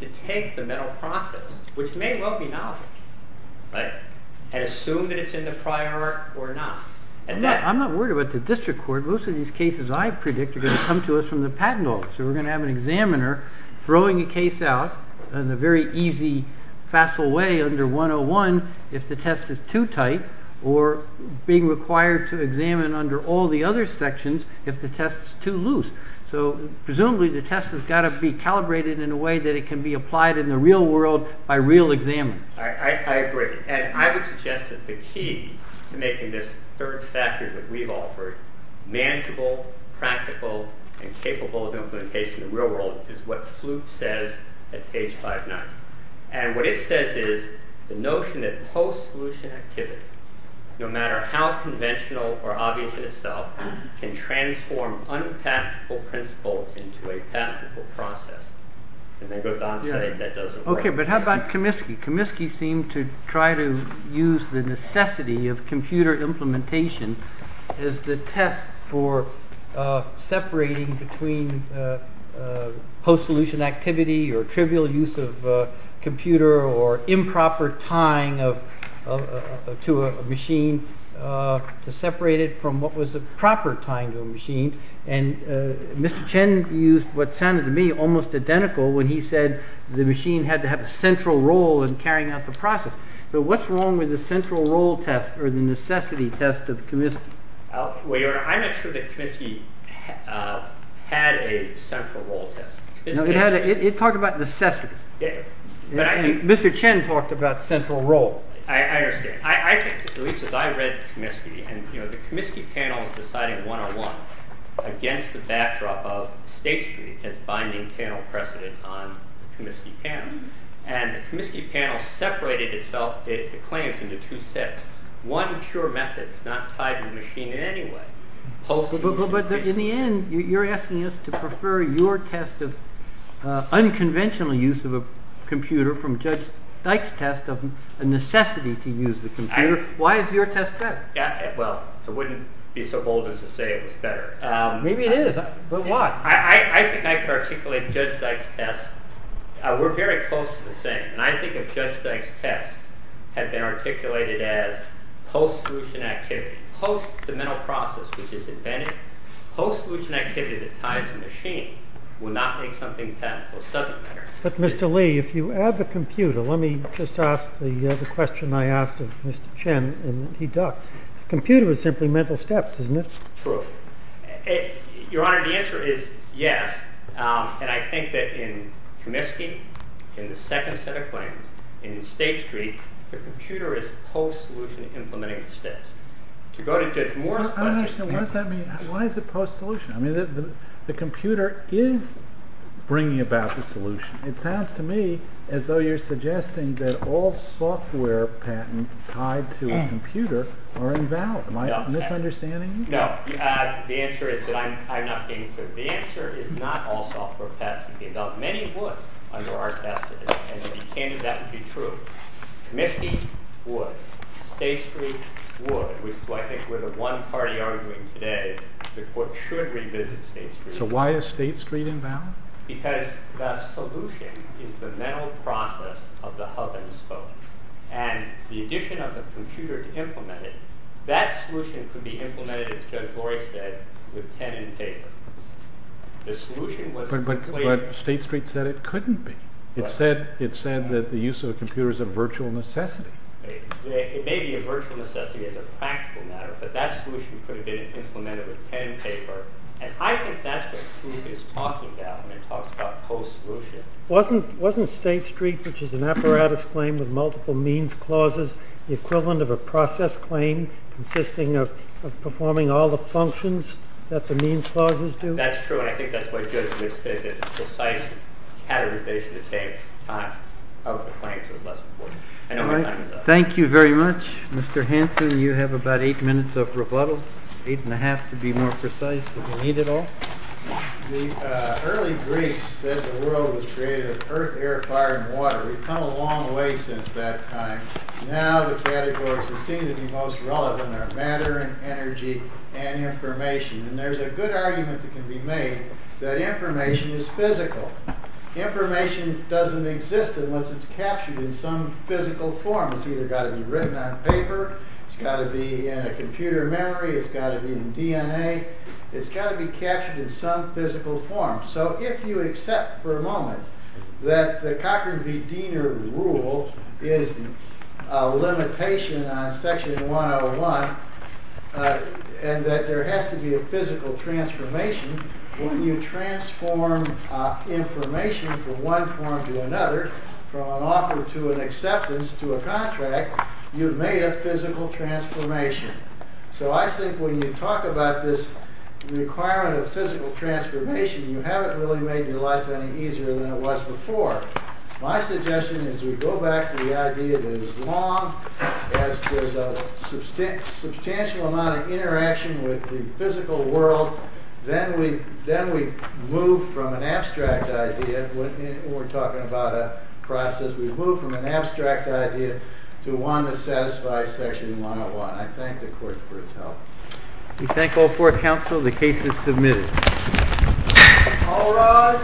to take the mental process, which may well be novel, and assume that it's in the prior art or not. I'm not worried about the district court. Most of these cases I predict are going to come to us from the patent office, so we're going to have an examiner throwing a case out in a very easy, facile way under 101 if the test is too tight, or being required to examine under all the other sections if the test is too loose. So presumably the test has got to be calibrated in a way that it can be applied in the real world by real examiners. I agree. And I would suggest that the key to making this third factor that we've offered manageable, practical, and capable of implementation in the real world is what Flute says at page 59. And what it says is the notion that post-solution activity, no matter how conventional or obvious in itself, can transform unpractical principle into a practical process. And then it goes on to say that doesn't work. Okay, but how about Comiskey? Comiskey seemed to try to use the necessity of computer implementation as the test for separating between post-solution activity or trivial use of computer or improper tying to a machine, to separate it from what was a proper tying to a machine. And Mr. Chen used what sounded to me almost identical when he said the machine had to have a central role in carrying out the process. But what's wrong with the central role test or the necessity test of Comiskey? Well, your honor, I'm not sure that Comiskey had a central role test. It talked about necessity. Mr. Chen talked about central role. I understand. At least as I read Comiskey, and the Comiskey panel is deciding 101 against the backdrop of State Street as binding panel precedent on the Comiskey panel. And the Comiskey panel separated itself, the claims, into two sets. One, pure methods, not tied to the machine in any way. Post-solution. Well, but in the end, you're asking us to prefer your test of unconventional use of a computer from Judge Dyke's test of a necessity to use the computer. Why is your test better? Well, I wouldn't be so bold as to say it was better. Maybe it is, but why? I think I could articulate Judge Dyke's test. We're very close to the same. And I think if Judge Dyke's test had been articulated as post-solution activity, post the mental process, which is advantage, post-solution activity that ties the machine would not make something pathological subject matter. But Mr. Lee, if you add the computer, let me just ask the question I asked of Mr. Chen and he ducked. Computer is simply mental steps, isn't it? True. Your Honor, the answer is yes. And I think that in Comiskey, in the second set of claims, in State Street, the computer is post-solution implementing steps. To go to Judge Moore's question... I don't understand. What does that mean? Why is it post-solution? I mean, the computer is bringing about the solution. It sounds to me as though you're suggesting that all software patents tied to a computer are invalid. Am I misunderstanding you? No. The answer is that I'm not getting to it. The answer is not all software patents would be invalid. Many would under our test today. And to be candid, that would be true. Comiskey would. State Street would. Which is why I think we're the one party arguing today that the court should revisit State Street. So why is State Street invalid? Because the solution is the mental process of the hub and spoke. And the addition of the computer to implement it, that solution could be implemented, as Judge Lori said, with pen and paper. The solution was... But State Street said it couldn't be. It said that the use of a computer is a virtual necessity. It may be a virtual necessity as a practical matter, but that solution could have been implemented with pen and paper. And I think that's what Sleuth is talking about when he talks about post-solution. Wasn't State Street, which is an apparatus claim with multiple means clauses, the equivalent of a process claim consisting of performing all the functions that the means clauses do? That's true. And I think that's why Judge Wood said that the precise categorization of claims was less important. I know my time is up. Thank you very much, Mr. Hanson. You have about eight minutes of rebuttal. Eight and a half, to be more precise, if you need it all. The early Greeks said the world was created of earth, air, fire, and water. We've come a long way since that time. Now the categories that seem to be most relevant are matter and energy and information. And there's a good argument that can be made that information is physical. Information doesn't exist unless it's captured in some physical form. It's either got to be written on paper. It's got to be in a computer memory. It's got to be in DNA. It's got to be captured in some physical form. So if you accept for a moment that the Cochrane v. Diener rule is a limitation on section 101 and that there has to be a physical transformation, when you transform information from one form to another, from an offer to an acceptance to a contract, you've made a physical transformation. So I think when you talk about this requirement of physical transformation, you haven't really made your life any easier than it was before. My suggestion is we go back to the idea that as long as there's a substantial amount of interaction with the physical world, then we move from an abstract idea, when we're talking about a process, we move from an abstract idea to one that satisfies section 101. I thank the court for its help. We thank all four counsel. The case is submitted. All rise. Thank you.